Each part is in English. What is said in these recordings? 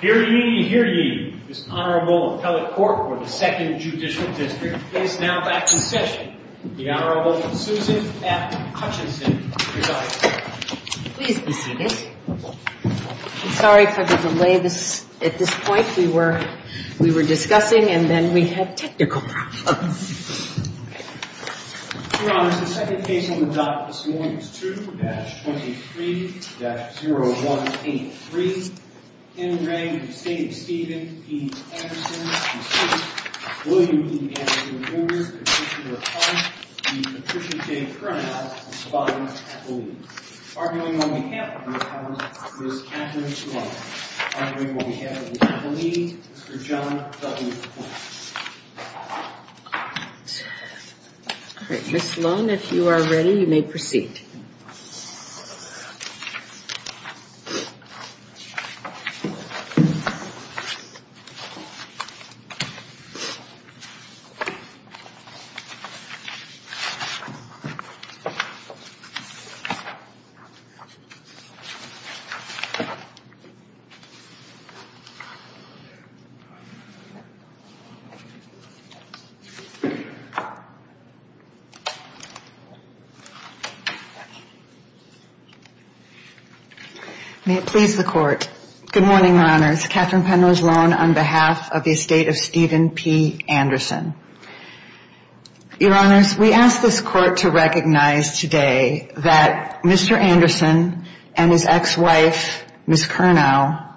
Here ye, here ye, this Honorable Appellate Court for the 2nd Judicial District is now back in session. The Honorable Susan F. Hutchinson. Please be seated. I'm sorry for the delay at this point. We were discussing and then we had technical problems. Your Honors, the second case on the docket this morning is 2-23-0183. In the name of the State of Stephen E. Anderson, William E. Anderson, Jr., Petitioner of Hunt, the appreciated current appellant, Mr. Bob Appellate. Arguing on behalf of the appellant, Ms. Catherine Sloan. Arguing on behalf of the appellee, Mr. John W. Platt. Ms. Sloan, if you are ready, you may proceed. May it please the Court. Good morning, Your Honors. Catherine Penrose Sloan on behalf of the Estate of Stephen P. Anderson. Your Honors, we ask this Court to recognize today that Mr. Anderson and his ex-wife, Ms. Curnow,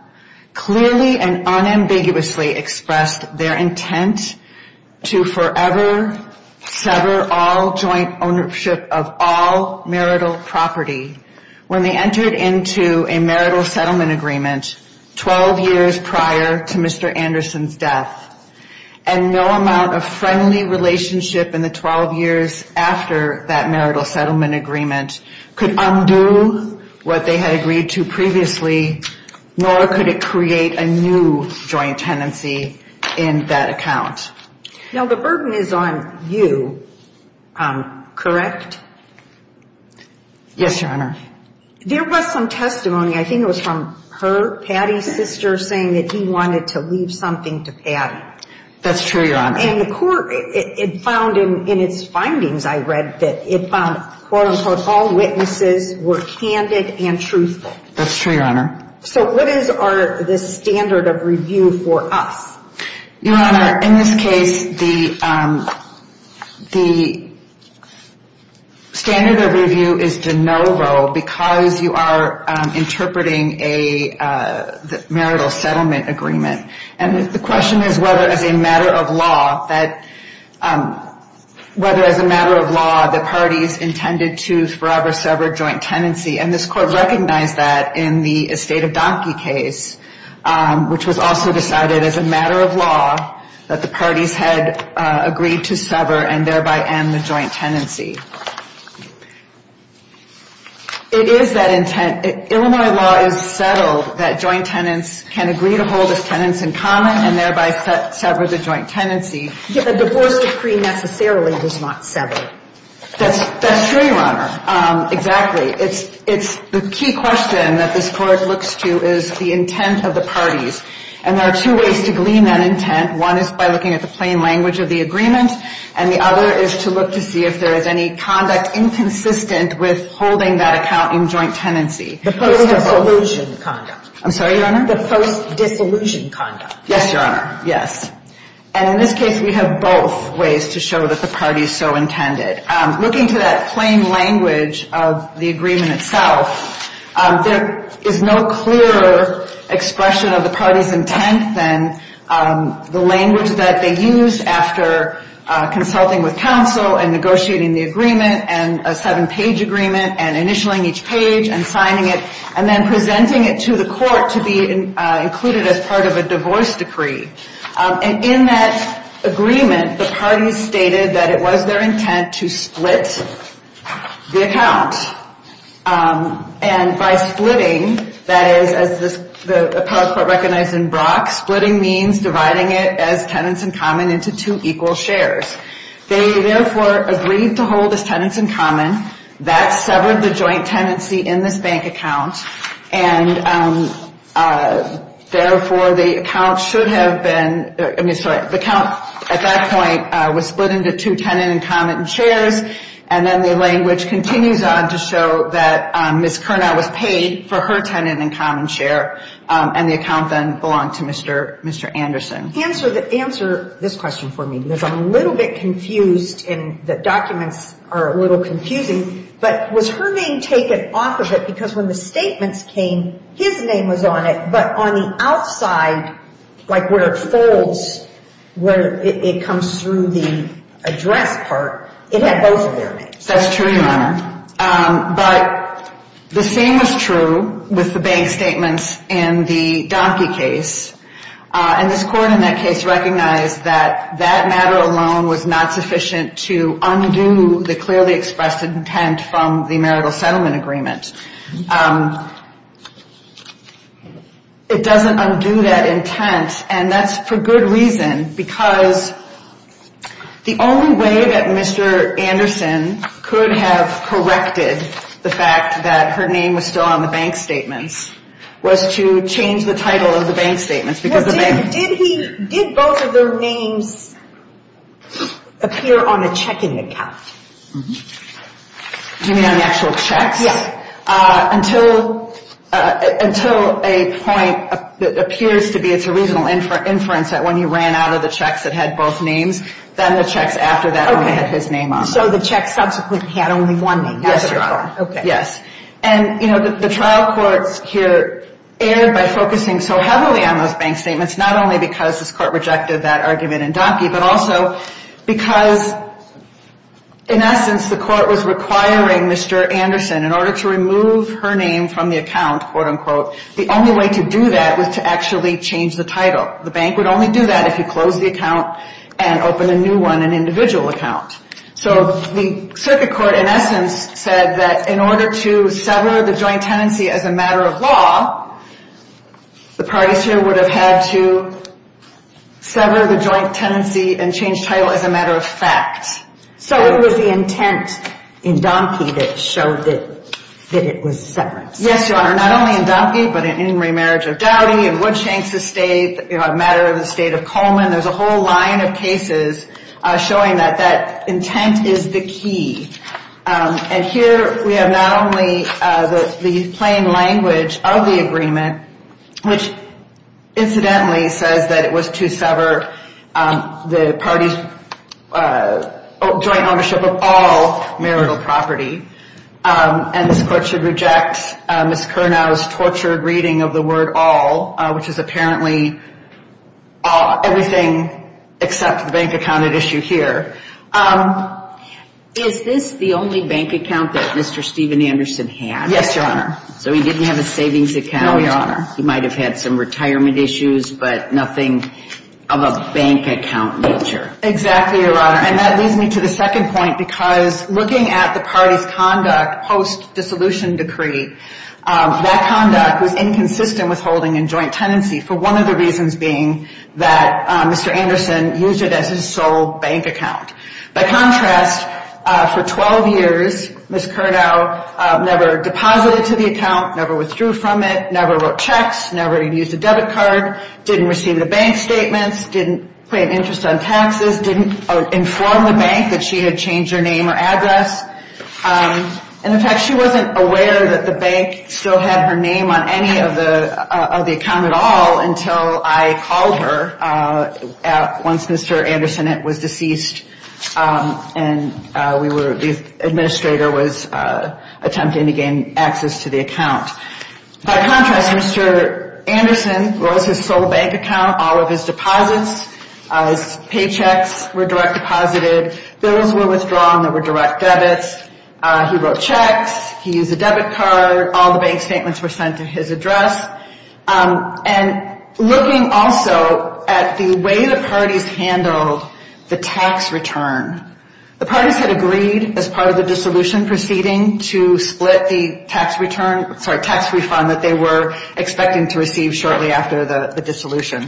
clearly and unambiguously expressed their intent to forever sever all joint ownership of all marital property when they entered into a marital settlement agreement 12 years prior to Mr. Anderson's death. And no amount of friendly relationship in the 12 years after that marital settlement agreement could undo what they had agreed to previously, nor could it create a new joint tenancy in that account. Now, the burden is on you, correct? Yes, Your Honor. There was some testimony, I think it was from her, Patty's sister, saying that he wanted to leave something to Patty. That's true, Your Honor. And the Court, it found in its findings, I read, that it found, quote-unquote, all witnesses were candid and truthful. That's true, Your Honor. So what is the standard of review for us? Your Honor, in this case, the standard of review is de novo because you are interpreting a marital settlement agreement. And the question is whether, as a matter of law, the parties intended to forever sever joint tenancy. And this Court recognized that in the Estate of Donkey case, which was also decided as a matter of law, that the parties had agreed to sever and thereby end the joint tenancy. It is that intent. Illinois law is settled that joint tenants can agree to hold as tenants in common and thereby sever the joint tenancy. A divorce decree necessarily does not sever. That's true, Your Honor. Exactly. It's the key question that this Court looks to is the intent of the parties. And there are two ways to glean that intent. One is by looking at the plain language of the agreement. And the other is to look to see if there is any conduct inconsistent with holding that account in joint tenancy. The post-dissolution conduct. I'm sorry, Your Honor? The post-dissolution conduct. Yes, Your Honor. Yes. And in this case, we have both ways to show that the parties so intended. Looking to that plain language of the agreement itself, there is no clearer expression of the parties' intent than the language that they used after consulting with counsel and negotiating the agreement and a seven-page agreement and initialing each page and signing it and then presenting it to the Court to be included as part of a divorce decree. And in that agreement, the parties stated that it was their intent to split the account. And by splitting, that is, as the Appellate Court recognized in Brock, splitting means dividing it as tenants in common into two equal shares. They, therefore, agreed to hold as tenants in common. That severed the joint tenancy in this bank account. And, therefore, the account should have been, I mean, sorry, the account at that point was split into two tenant in common shares. And then the language continues on to show that Ms. Curnow was paid for her tenant in common share. And the account then belonged to Mr. Anderson. Answer this question for me because I'm a little bit confused and the documents are a little confusing. But was her name taken off of it? Because when the statements came, his name was on it. But on the outside, like where it folds, where it comes through the address part, it had both of their names. That's true, Your Honor. But the same is true with the bank statements in the Donkey case. And this Court in that case recognized that that matter alone was not sufficient to undo the clearly expressed intent from the marital settlement agreement. It doesn't undo that intent, and that's for good reason. Because the only way that Mr. Anderson could have corrected the fact that her name was still on the bank statements was to change the title of the bank statements. Did both of their names appear on the checking account? Do you mean on the actual checks? Yes. Until a point that appears to be it's a reasonable inference that when he ran out of the checks that had both names, then the checks after that only had his name on them. So the checks subsequently had only one name. Yes, Your Honor. Okay. Yes. And, you know, the trial courts here erred by focusing so heavily on those bank statements, not only because this Court rejected that argument in Donkey, but also because, in essence, the Court was requiring Mr. Anderson, in order to remove her name from the account, quote, unquote, the only way to do that was to actually change the title. The bank would only do that if you closed the account and opened a new one, an individual account. So the circuit court, in essence, said that in order to sever the joint tenancy as a matter of law, the parties here would have had to sever the joint tenancy and change title as a matter of fact. So it was the intent in Donkey that showed that it was separate. Yes, Your Honor. Not only in Donkey, but in Remarriage of Dowdy, in Woodshanks Estate, a matter of the State of Cullman. There's a whole line of cases showing that that intent is the key. And here we have not only the plain language of the agreement, which incidentally says that it was to sever the parties' joint ownership of all marital property, and this Court should reject Ms. Curnow's tortured reading of the word all, which is apparently everything except the bank-accounted issue here. Is this the only bank account that Mr. Steven Anderson had? Yes, Your Honor. So he didn't have a savings account. No, Your Honor. He might have had some retirement issues, but nothing of a bank-account nature. Exactly, Your Honor. And that leads me to the second point, because looking at the party's conduct post-dissolution decree, that conduct was inconsistent with holding in joint tenancy for one of the reasons being that Mr. Anderson used it as his sole bank account. By contrast, for 12 years, Ms. Curnow never deposited to the account, never withdrew from it, never wrote checks, never used a debit card, didn't receive the bank statements, didn't pay an interest on taxes, didn't inform the bank that she had changed her name or address. And, in fact, she wasn't aware that the bank still had her name on any of the account at all until I called her once Mr. Anderson was deceased and the administrator was attempting to gain access to the account. By contrast, Mr. Anderson was his sole bank account. All of his deposits, his paychecks were direct deposited. Those were withdrawn. They were direct debits. He wrote checks. He used a debit card. All the bank statements were sent to his address. And looking also at the way the parties handled the tax return, the parties had agreed as part of the dissolution proceeding to split the tax refund that they were expecting to receive shortly after the dissolution.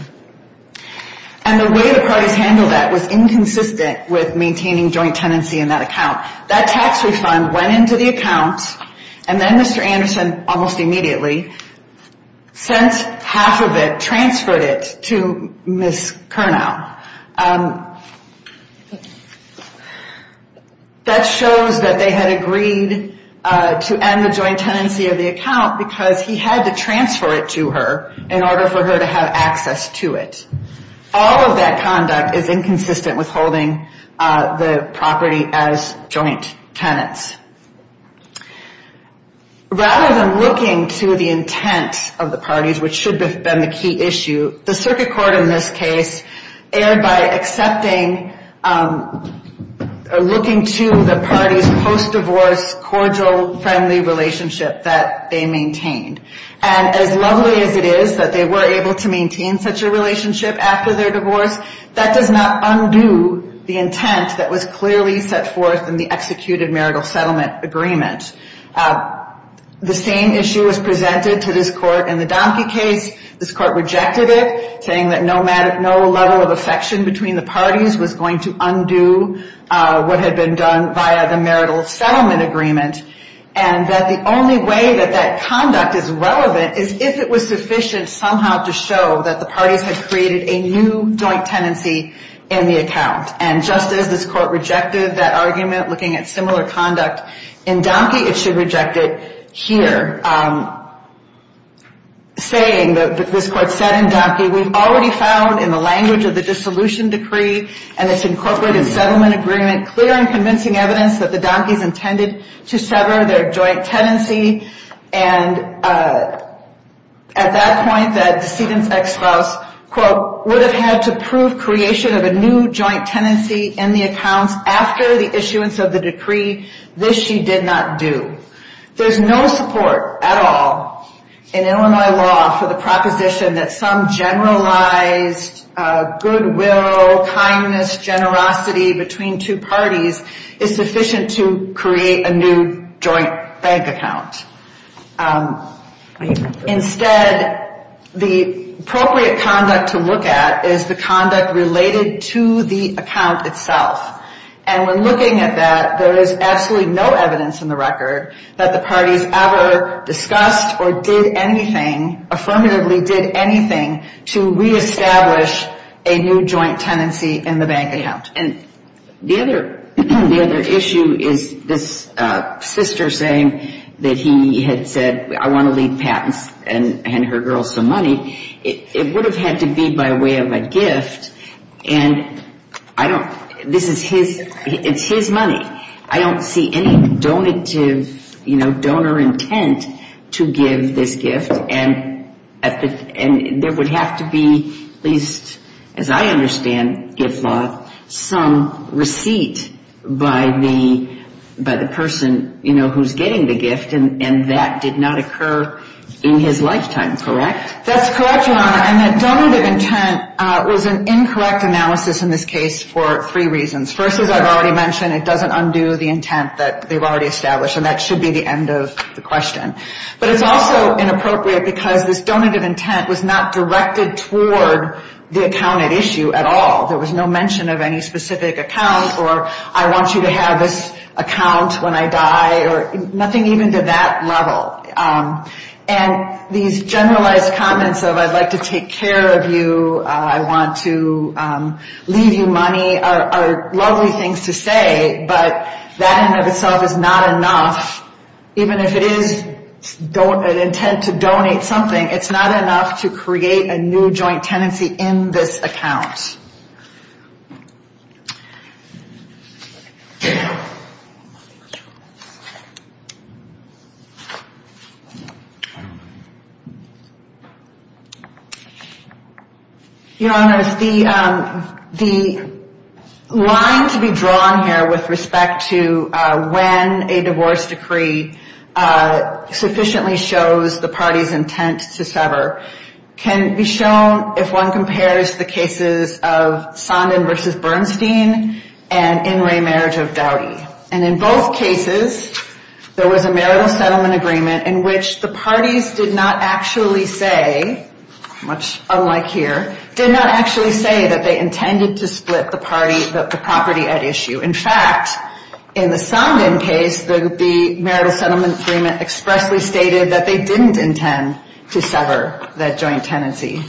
And the way the parties handled that was inconsistent with maintaining joint tenancy in that account. That tax refund went into the account, and then Mr. Anderson, almost immediately, sent half of it, transferred it to Ms. Kernow. That shows that they had agreed to end the joint tenancy of the account because he had to transfer it to her in order for her to have access to it. All of that conduct is inconsistent with holding the property as joint tenants. Rather than looking to the intent of the parties, which should have been the key issue, the circuit court in this case erred by accepting or looking to the parties' post-divorce, cordial, friendly relationship that they maintained. And as lovely as it is that they were able to maintain such a relationship after their divorce, that does not undo the intent that was clearly set forth in the executed marital settlement agreement. The same issue was presented to this court in the Donkey case. This court rejected it, saying that no level of affection between the parties was going to undo what had been done via the marital settlement agreement, and that the only way that that conduct is relevant is if it was sufficient somehow to show that the parties had created a new joint tenancy in the account. And just as this court rejected that argument looking at similar conduct in Donkey, it should reject it here, saying that this court said in Donkey, we've already found in the language of the dissolution decree and its incorporated settlement agreement clear and convincing evidence that the Donkeys intended to sever their joint tenancy. And at that point, the decedent's ex-spouse, quote, would have had to prove creation of a new joint tenancy in the accounts after the issuance of the decree. This she did not do. There's no support at all in Illinois law for the proposition that some generalized goodwill, kindness, generosity between two parties is sufficient to create a new joint bank account. Instead, the appropriate conduct to look at is the conduct related to the account itself. And when looking at that, there is absolutely no evidence in the record that the parties ever discussed or did anything, affirmatively did anything to reestablish a new joint tenancy in the bank account. And the other issue is this sister saying that he had said, I want to leave patents and hand her girls some money. It would have had to be by way of a gift, and I don't this is his, it's his money. I don't see any donor intent to give this gift, and there would have to be at least, as I understand gift law, some receipt by the person, you know, who's getting the gift, and that did not occur in his lifetime, correct? That's correct, Your Honor, and that donative intent was an incorrect analysis in this case for three reasons. First, as I've already mentioned, it doesn't undo the intent that they've already established, and that should be the end of the question. But it's also inappropriate because this donative intent was not directed toward the account at issue at all. There was no mention of any nothing even to that level. And these generalized comments of I'd like to take care of you, I want to leave you money are lovely things to say, but that in and of itself is not enough, even if it is an intent to donate something, it's not enough to create a new joint tenancy in this account. Your Honor, the line to be drawn here with respect to when a divorce decree sufficiently shows the party's intent to sever can be shown if one compares the cases of Sondland v. Bernstein and Inouye marriage of Dowdy. And in both cases, there was a marital settlement agreement in which the parties did not actually say, much unlike here, did not actually say that they intended to split the property at issue. In fact, in the Sondland case, the marital settlement agreement expressly stated that they didn't intend to sever that joint tenancy.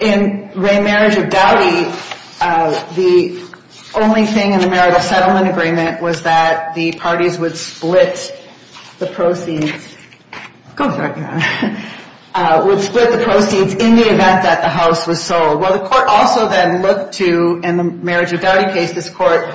In the marital settlement agreement was that the parties would split the proceeds in the event that the house was sold. Well, the court also then looked to, in the marriage of Dowdy case, this court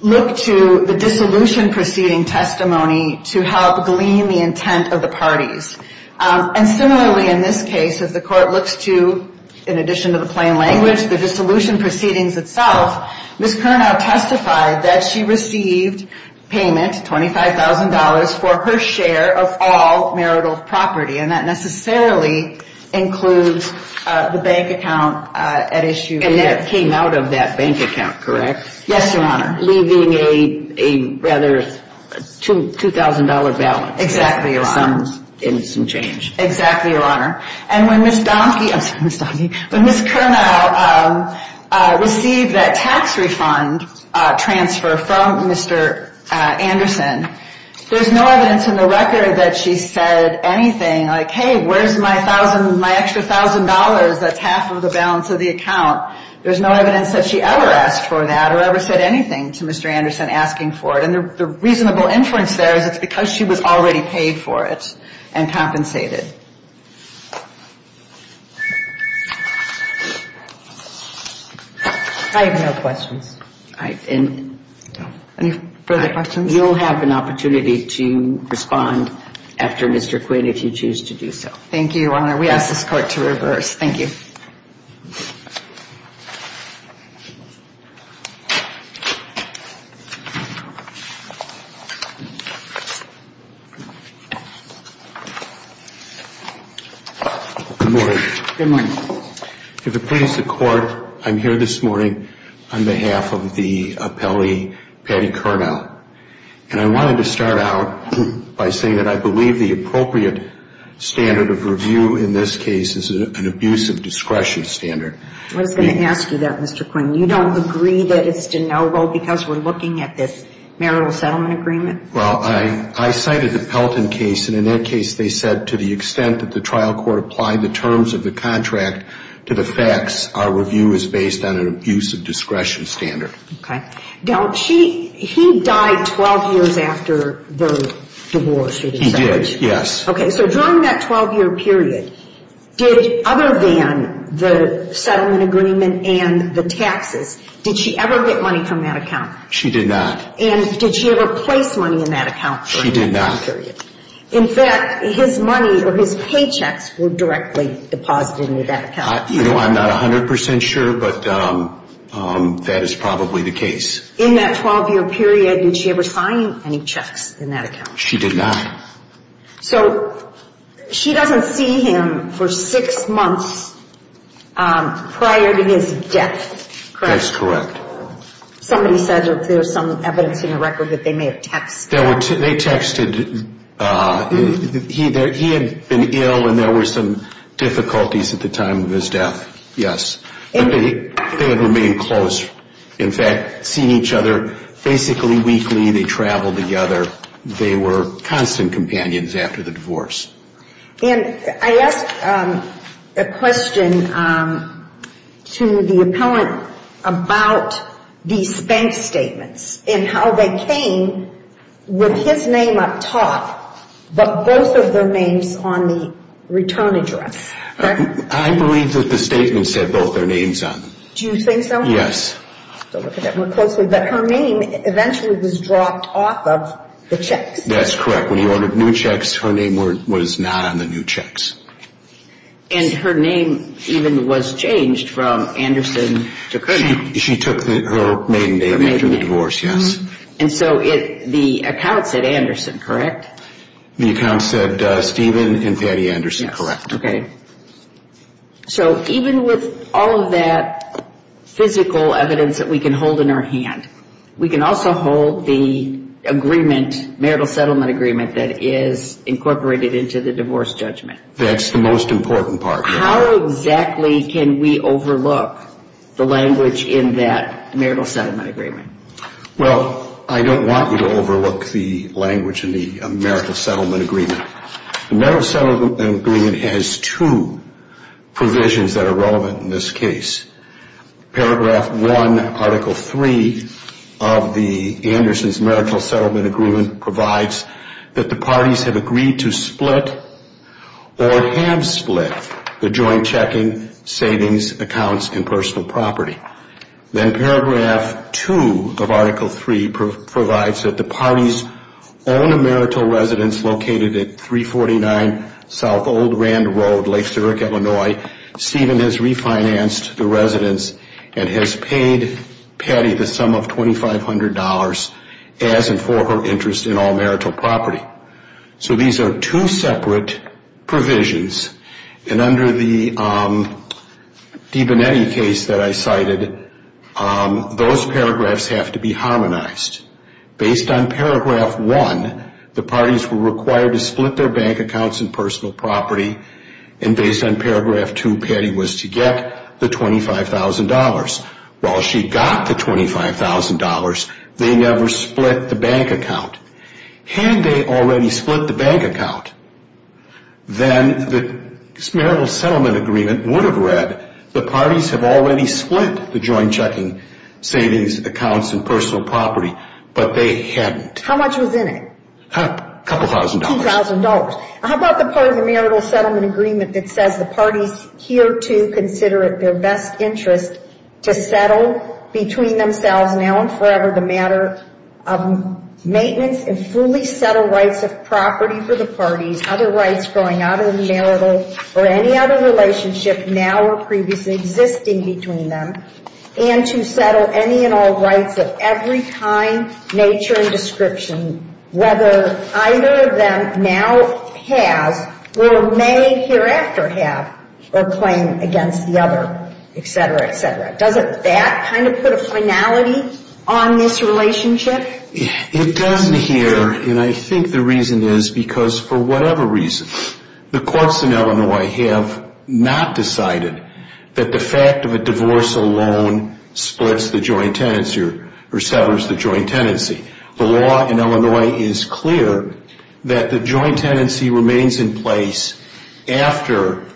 looked to the dissolution proceeding testimony to help glean the intent of the parties. And similarly, in this case, as the court looks to, in addition to the plain language, the dissolution proceedings itself, Ms. Curnow testified that she received payment, $25,000, for her share of all marital property. And that necessarily includes the bank account at issue here. And that came out of that bank account, correct? Yes, Your Honor. Leaving a rather $2,000 balance. Exactly, Your Honor. In some change. Exactly, Your Honor. And when Ms. Donkey, I'm sorry, Ms. Donkey, when Ms. Curnow received that tax refund transfer from Mr. Anderson, there's no evidence in the record that she said anything like, hey, where's my extra $1,000 that's half of the balance of the account. There's no evidence that she ever asked for that or ever said anything to Mr. Anderson. And so if she was asking for it, she would need to have it, and she would have to have it in a way that would be appropriate and compensated. I have no questions. Any further questions? You'll have an opportunity to respond after, Mr. Quinn, if you choose to do so. Thank you, Your Honor. Good morning. If it pleases the Court, I'm here this morning on behalf of the appellee Patty Kernow, and I wanted to start out by saying that I believe the appropriate standard of review in this case is an abuse of discretion standard. I was going to ask you that, Mr. Quinn. You don't agree that it's deniable because we're citing the Pelton case, and in that case they said to the extent that the trial court applied the terms of the contract to the facts, our review is based on an abuse of discretion standard. Okay. Now, he died 12 years after the divorce. He did, yes. Okay, so during that 12-year period, did other than the settlement agreement and the taxes, did she ever get money from that account? She did not. And did she ever place money in that account during that period? She did not. In fact, his money or his paychecks were directly deposited into that account. You know, I'm not 100 percent sure, but that is probably the case. In that 12-year period, did she ever sign any checks in that account? She did not. So she doesn't see him for six months prior to his death, correct? That's correct. Somebody said that there's some evidence in the record that they may have texted. They texted. He had been ill and there were some difficulties at the time of his death, yes. They had remained close. In fact, seeing each other basically weekly, they traveled together. They were constant companions after the divorce. And I asked a question to the appellant about these bank statements and how they came with his name up top, but both of their names on the return address. I believe that the statement said both their names on it. Do you think so? Yes. But her name eventually was dropped off of the checks. That's correct. When you ordered new checks, her name was not on the new checks. And her name even was changed from Anderson to Christine. She took her maiden name after the divorce, yes. And so the account said Anderson, correct? The account said Steven and Patty Anderson, correct. Okay. So even with all of that physical evidence that we can hold in our hand, we can also hold the agreement, marital settlement agreement that is incorporated into the divorce judgment. That's the most important part. How exactly can we overlook the language in that marital settlement agreement? Well, I don't want you to overlook the language in the marital settlement agreement. The marital settlement agreement has two provisions that are relevant in this case. Paragraph 1, Article 3 of the Anderson's marital settlement agreement provides that the parties have agreed to split or have split the joint checking, savings, accounts, and personal property. Then Paragraph 2 of Article 3 provides that the parties own a marital residence located at 349 South Old Rand Road, Lake Zurich, Illinois. Steven has refinanced the residence and has paid Patty the sum of $2,500 as and for her interest in all marital property. So these are two separate provisions. And under the DiBonetti case that I cited, those paragraphs have to be harmonized. Based on Paragraph 1, the parties were required to split their bank accounts and personal property. And based on Paragraph 2, Patty was to get the $25,000. While she got the $25,000, they never split the bank account. Had they already split the bank account, then the marital settlement agreement would have read the parties have already split the joint checking, savings, accounts, and personal property, but they hadn't. How much was in it? A couple thousand dollars. $2,000. How about the part of the marital settlement agreement that says the parties here to consider it their best interest to and fully settle rights of property for the parties, other rights going out of the marital or any other relationship now or previously existing between them, and to settle any and all rights of every kind, nature, and description, whether either of them now has or may hereafter have or claim against the other, et cetera, et cetera. Doesn't that kind of put a finality on this relationship? It doesn't here, and I think the reason is because for whatever reason, the courts in Illinois have not decided that the fact of a divorce alone splits the joint tenancy or severs the joint tenancy. The law in Illinois is clear that the joint tenancy remains in place after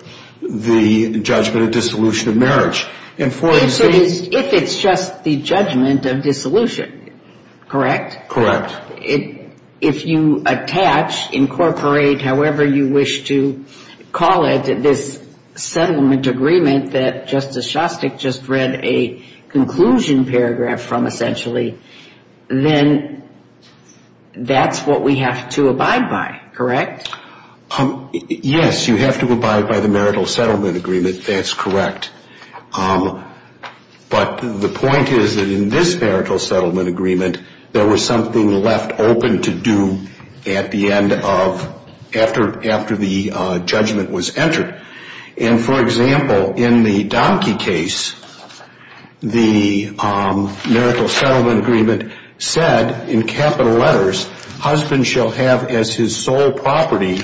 the judgment of dissolution of marriage. If it's just the judgment of dissolution, correct? Correct. If you attach, incorporate, however you wish to call it, this settlement agreement that Justice Shostak just read a conclusion paragraph from, essentially, then that's what we have to abide by, correct? Yes, you have to abide by the marital settlement agreement. That's correct. But the point is that in this marital settlement agreement, there was something left open to do at the end of, after the judgment was entered. And, for example, in the Donkey case, the marital settlement agreement said in capital letters, husband shall have as his sole property,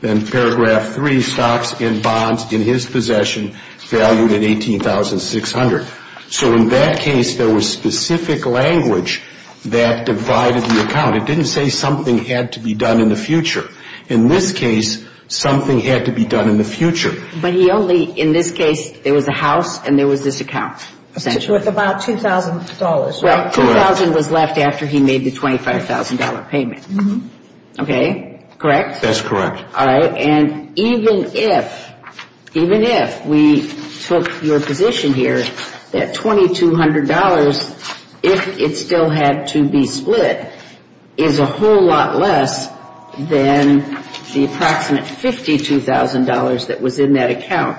then paragraph three, stocks and bonds in his possession valued at 18,600. So in that case, there was specific language that divided the account. It didn't say something had to be done in the future. In this case, something had to be done in the future. But he only, in this case, there was a house and there was this account. With about $2,000, right? Well, $2,000 was left after he made the $25,000 payment. Okay? Correct? That's correct. All right. And even if, even if we took your position here that $2,200, if it still had to be split, is a whole lot less than the approximate $52,000 that was in that account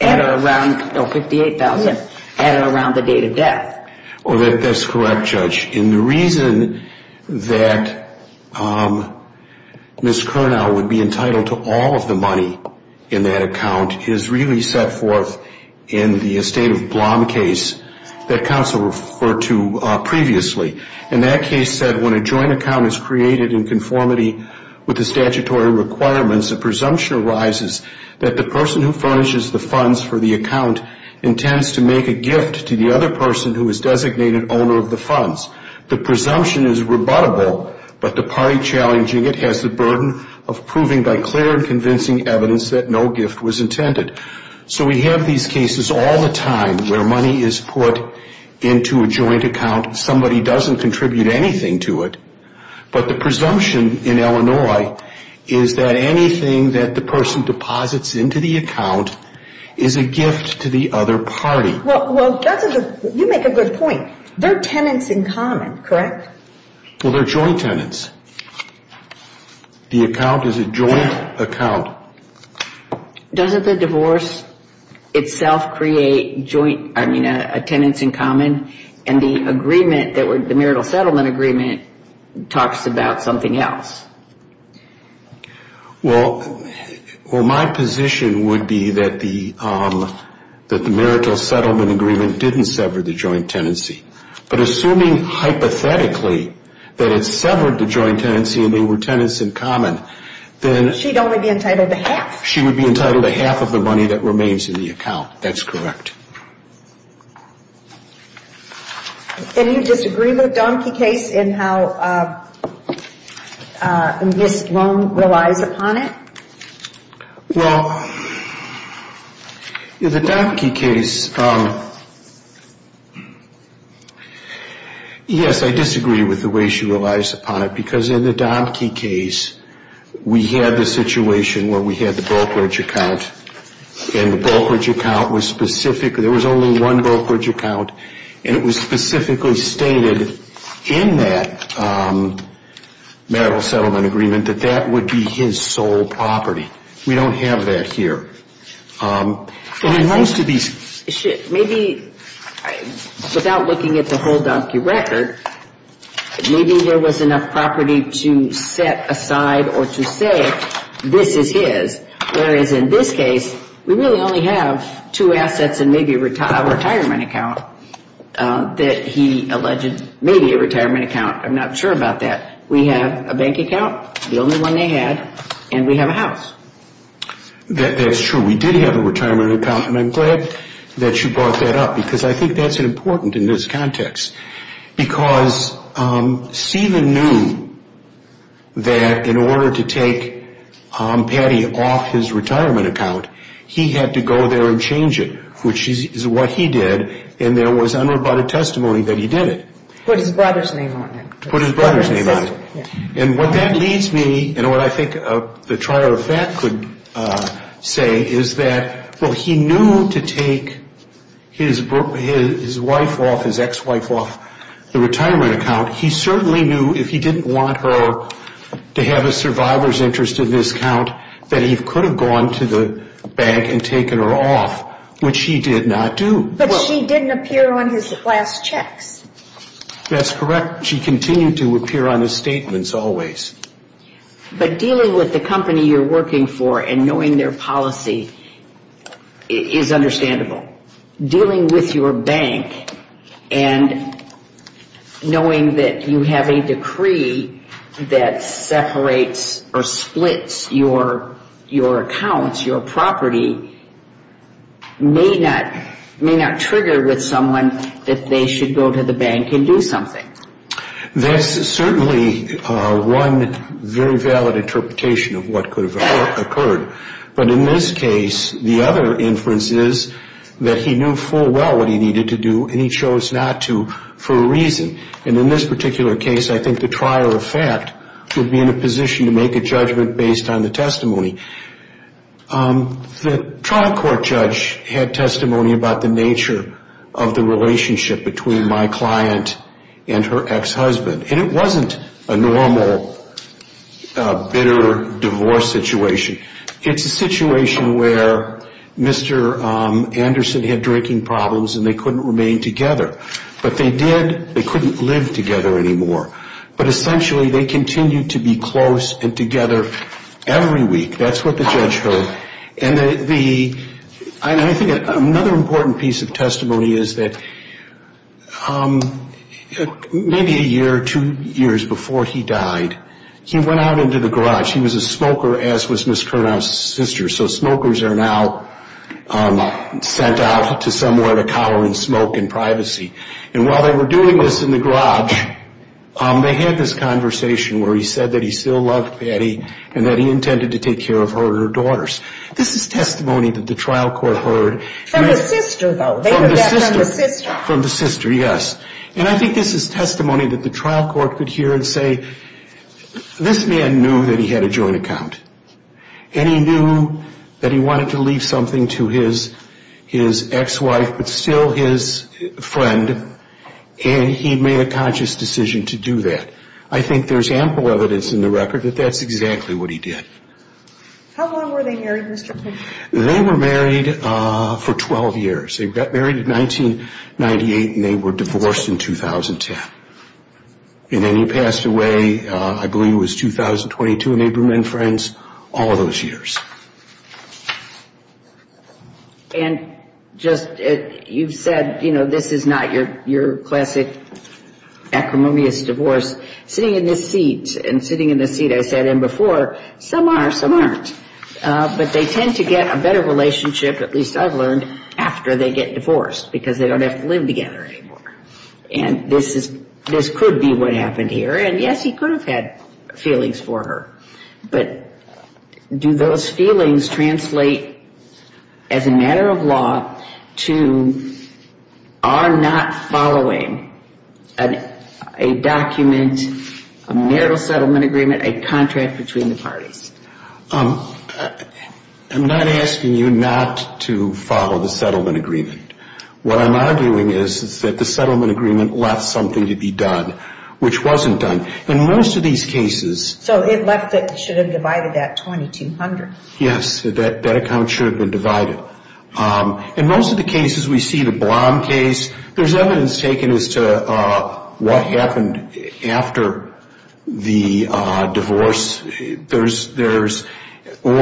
at or around, no, 58,000, at or around the date of death? That's correct, Judge. And the reason that Ms. Kernow would be entitled to all of the money in that account is really set forth in the estate of Blom case that counsel referred to with the statutory requirements, a presumption arises that the person who furnishes the funds for the account intends to make a gift to the other person who is designated owner of the funds. The presumption is rebuttable, but the party challenging it has the burden of proving by clear and convincing evidence that no gift was intended. So we have these cases all the time where money is put into a joint account. Somebody doesn't contribute anything to it, but the presumption in Illinois is that anything that the person deposits into the account is a gift to the other party. Well, you make a good point. They're tenants in common, correct? Well, they're joint tenants. The account is a joint account. Does the divorce itself create joint, I mean, a tenants in common? And the agreement, the marital settlement agreement talks about something else. Well, my position would be that the marital settlement agreement didn't sever the joint tenancy. But assuming hypothetically that it severed the joint tenancy and they were tenants in common, then she'd only be entitled to half. She would be entitled to half of the money that remains in the account. That's correct. And you disagree with the Domke case in how this loan relies upon it? Well, the Domke case, yes, I disagree with the way she relies upon it, because in the Domke case, we had the situation where we had the brokerage account, and the brokerage account was specific, there was only one brokerage account, and it was specifically stated in that marital settlement agreement that that would be his sole property. We don't have that here. Maybe without looking at the whole Domke record, maybe there was enough property to set aside or to say this is his, whereas in this case, we really only have two assets and maybe a retirement account that he alleged, maybe a retirement account, I'm not sure about that. We have a bank account, the only one they had, and we have a house. That's true. We did have a retirement account, and I'm glad that you brought that up, because I think that's important in this context, because Stephen knew that in order to take Patty off his retirement account, he had to go there and change it, which is what he did, and there was unroboted testimony that he did it. Put his brother's name on it. Put his brother's name on it. And what that leads me, and what I think the trier of fact could say, is that well, he knew to take his wife off, his ex-wife off the retirement account. He certainly knew if he didn't want her to have a survivor's interest in this account, that he could have gone to the bank and That's correct. She continued to appear on the statements always. But dealing with the company you're working for and knowing their policy is understandable. Dealing with your bank and knowing that you have a decree that separates or splits your accounts, your property, may not trigger with someone that they should go to the bank and do something. That's certainly one very valid interpretation of what could have occurred. But in this case, the other inference is that he knew full well what he needed to do, and he chose not to for a reason. And in this particular case, I think the trier of fact would be in a position to make a testimony about the nature of the relationship between my client and her ex-husband. And it wasn't a normal bitter divorce situation. It's a situation where Mr. Anderson had drinking problems and they couldn't remain together. But they did, they couldn't live together anymore. But essentially they continued to be close and together every day. And I think another important piece of testimony is that maybe a year or two years before he died, he went out into the garage. He was a smoker, as was Ms. Kernow's sister. So smokers are now sent out to somewhere to cower in smoke and privacy. And while they were doing this in the garage, they had this conversation where he said that he still loved Patty and that he intended to take care of her and her daughters. This is testimony that the trial court heard. From the sister, though. They were back from the sister. From the sister, yes. And I think this is testimony that the trial court could hear and say, this man knew that he had a joint account. And he knew that he did. They were married for 12 years. They got married in 1998 and they were divorced in 2010. And then he passed away, I believe it was 2022 in Abram and Friends. All of those years. And just, you've said, you know, this is not your classic acrimonious divorce, sitting in this seat and sitting in the seat I sat in before, some are, some aren't. But they tend to get a better relationship, at least I've learned, after they get divorced because they don't have to live together anymore. And this could be what happened here. And yes, he could have had feelings for her. But do those feelings translate as a matter of law to are not following a document, a marital settlement agreement, a contract between the parties? I'm not asking you not to follow the settlement agreement. What I'm arguing is that the settlement agreement left something to be done which wasn't done. In most of these cases. So it should have divided that 2,200. Yes, that account should have been divided. In most of the cases we see, the Blom case, there's evidence taken as to what happened after the divorce. Or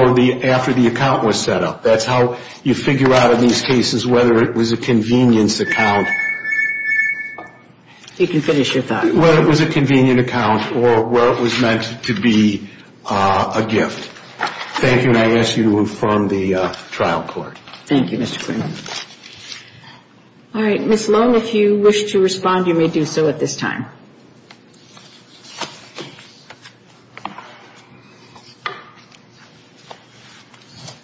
after the account was set up. That's how you figure out in these cases whether it was a convenience account. You can finish your thought. Whether it was a convenient account or whether it was meant to be a gift. Thank you, and I ask you to inform the trial court. Thank you, Mr. Quinn. All right, Ms. Lone, if you wish to respond, you may do so at this time.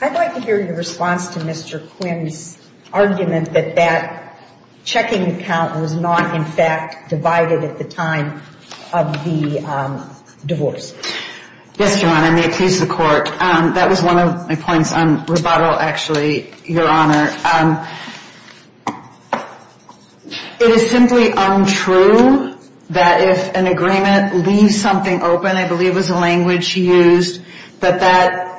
I'd like to hear your response to Mr. Quinn's argument that that checking account was not, in fact, divided at the time of the divorce. Yes, Your Honor, may it please the court. That was one of my points on rebuttal, actually, Your Honor. It is simply untrue that if an agreement leaves something open, I believe was the language he used, that that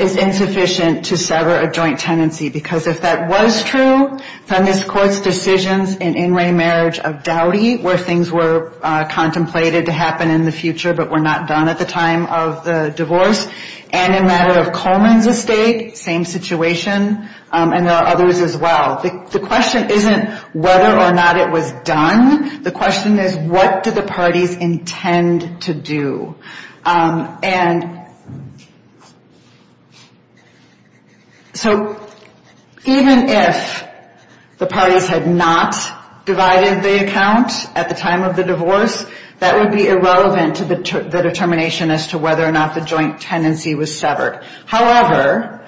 is insufficient to sever a joint tenancy. Because if that was true, from this court's decisions in in-ray marriage of Dowdy, where things were contemplated to happen in the future but were not done at the time of the divorce, and in matter of Coleman's estate, same situation, and there are others as well. The question isn't whether or not it was done. The question is what do the parties intend to do? So even if the parties had not divided the account at the time of the divorce, that would be irrelevant to the determination as to whether or not the joint tenancy was severed. However,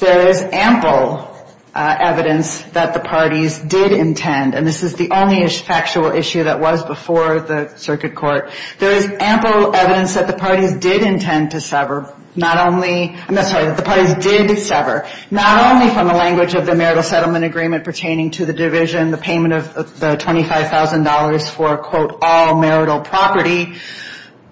there is ample evidence that the parties did intend, and this is the only factual issue that was before the Circuit Court. There is ample evidence that the parties did intend to sever, not only, I'm sorry, that the parties did sever, not only from the language of the marital settlement agreement pertaining to the division, the payment of the $25,000 for quote, all marital property,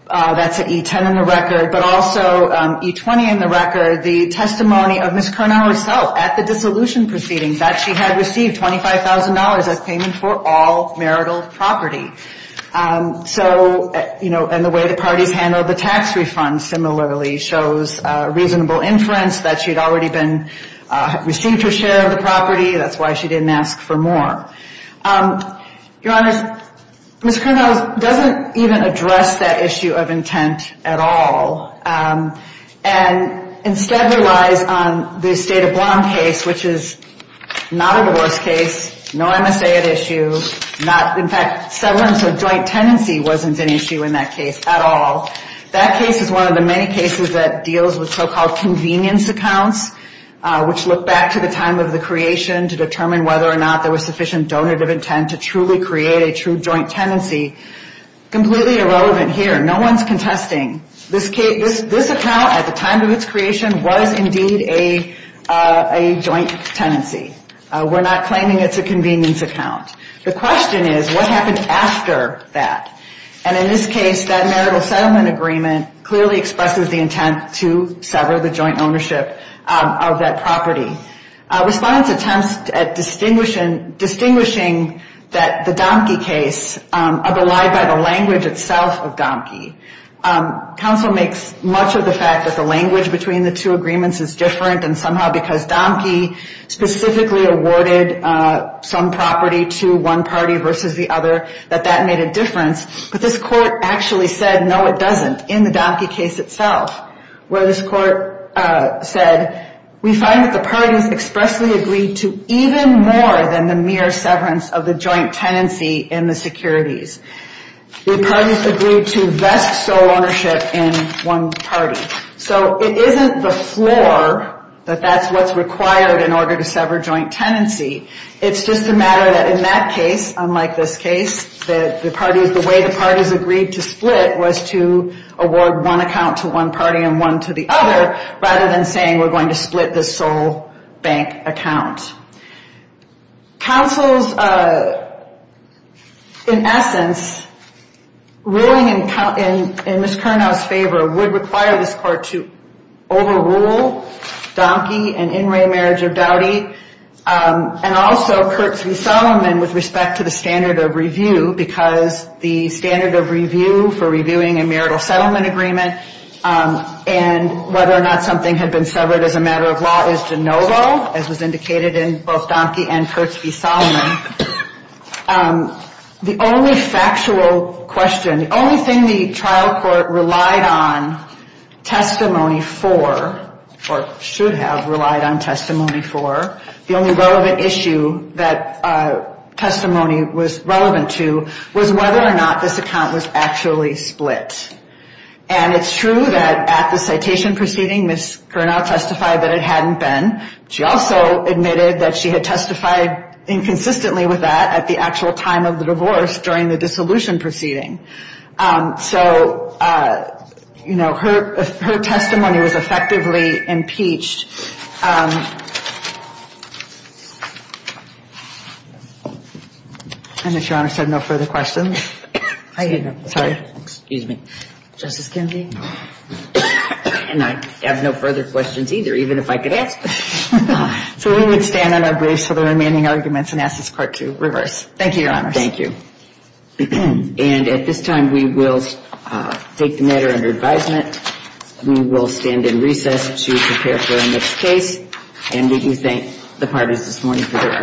that's an E-10 in the record, but also E-20 in the record, the testimony of Ms. Cornell herself at the dissolution proceedings, that she had received $25,000 as payment for all marital property. So, you know, and the way the parties handled the tax refund similarly shows reasonable inference that she had already been, received her share of the $25,000. Ms. Cornell doesn't even address that issue of intent at all. And instead relies on the state of Blanc case, which is not a divorce case, no MSA at issue, not, in fact, severance of joint tenancy wasn't an issue in that case at all. That case is one of the many cases that deals with so-called convenience accounts, which look back to the time of the creation to determine whether or not there was sufficient donative intent to truly create a true joint tenancy, completely irrelevant here. No one's contesting. This account at the time of its creation was indeed a joint tenancy. We're not claiming it's a convenience account. The question is, what happened after that? And in this case, that marital settlement agreement clearly expresses the intent to sever the joint tenancy, distinguishing that the Damke case are belied by the language itself of Damke. Counsel makes much of the fact that the language between the two agreements is different and somehow because Damke specifically awarded some property to one party versus the other, that that made a difference. But this court actually said, no, it doesn't, in the Damke case itself, where this court said, we find that the parties expressly agreed to even more than the mere severance of the joint tenancy in the securities. The parties agreed to vest sole ownership in one party. So it isn't the floor that that's what's required in order to sever joint tenancy. It's just a matter that in that case, unlike this case, that the parties, the way the parties agreed to split was to sever the joint tenancy rather than saying we're going to split the sole bank account. Counsel's, in essence, ruling in Ms. Curnow's favor would require this court to overrule Damke and in re marriage of Dowdy and also Kurtz v. Solomon with respect to the standard of review because the standard of review for anything had been severed as a matter of law is de novo as was indicated in both Damke and Kurtz v. Solomon. The only factual question, the only thing the trial court relied on testimony for, or should have relied on testimony for, the only relevant issue that testimony was relevant to was whether or not this account was actually split. And it's true that at the citation proceeding, Ms. Curnow testified that it hadn't been. She also admitted that she had testified inconsistently with that at the actual time of the divorce during the dissolution proceeding. So, you know, her testimony was effectively impeached. And if Your Honor said no further questions. And I have no further questions either, even if I could ask. So we would stand on our briefs for the remaining arguments and ask this court to reverse. Thank you, Your Honor. Thank you. And at this time we will take the matter under advisement. We will stand in recess to prepare for our next case. And we do thank the parties this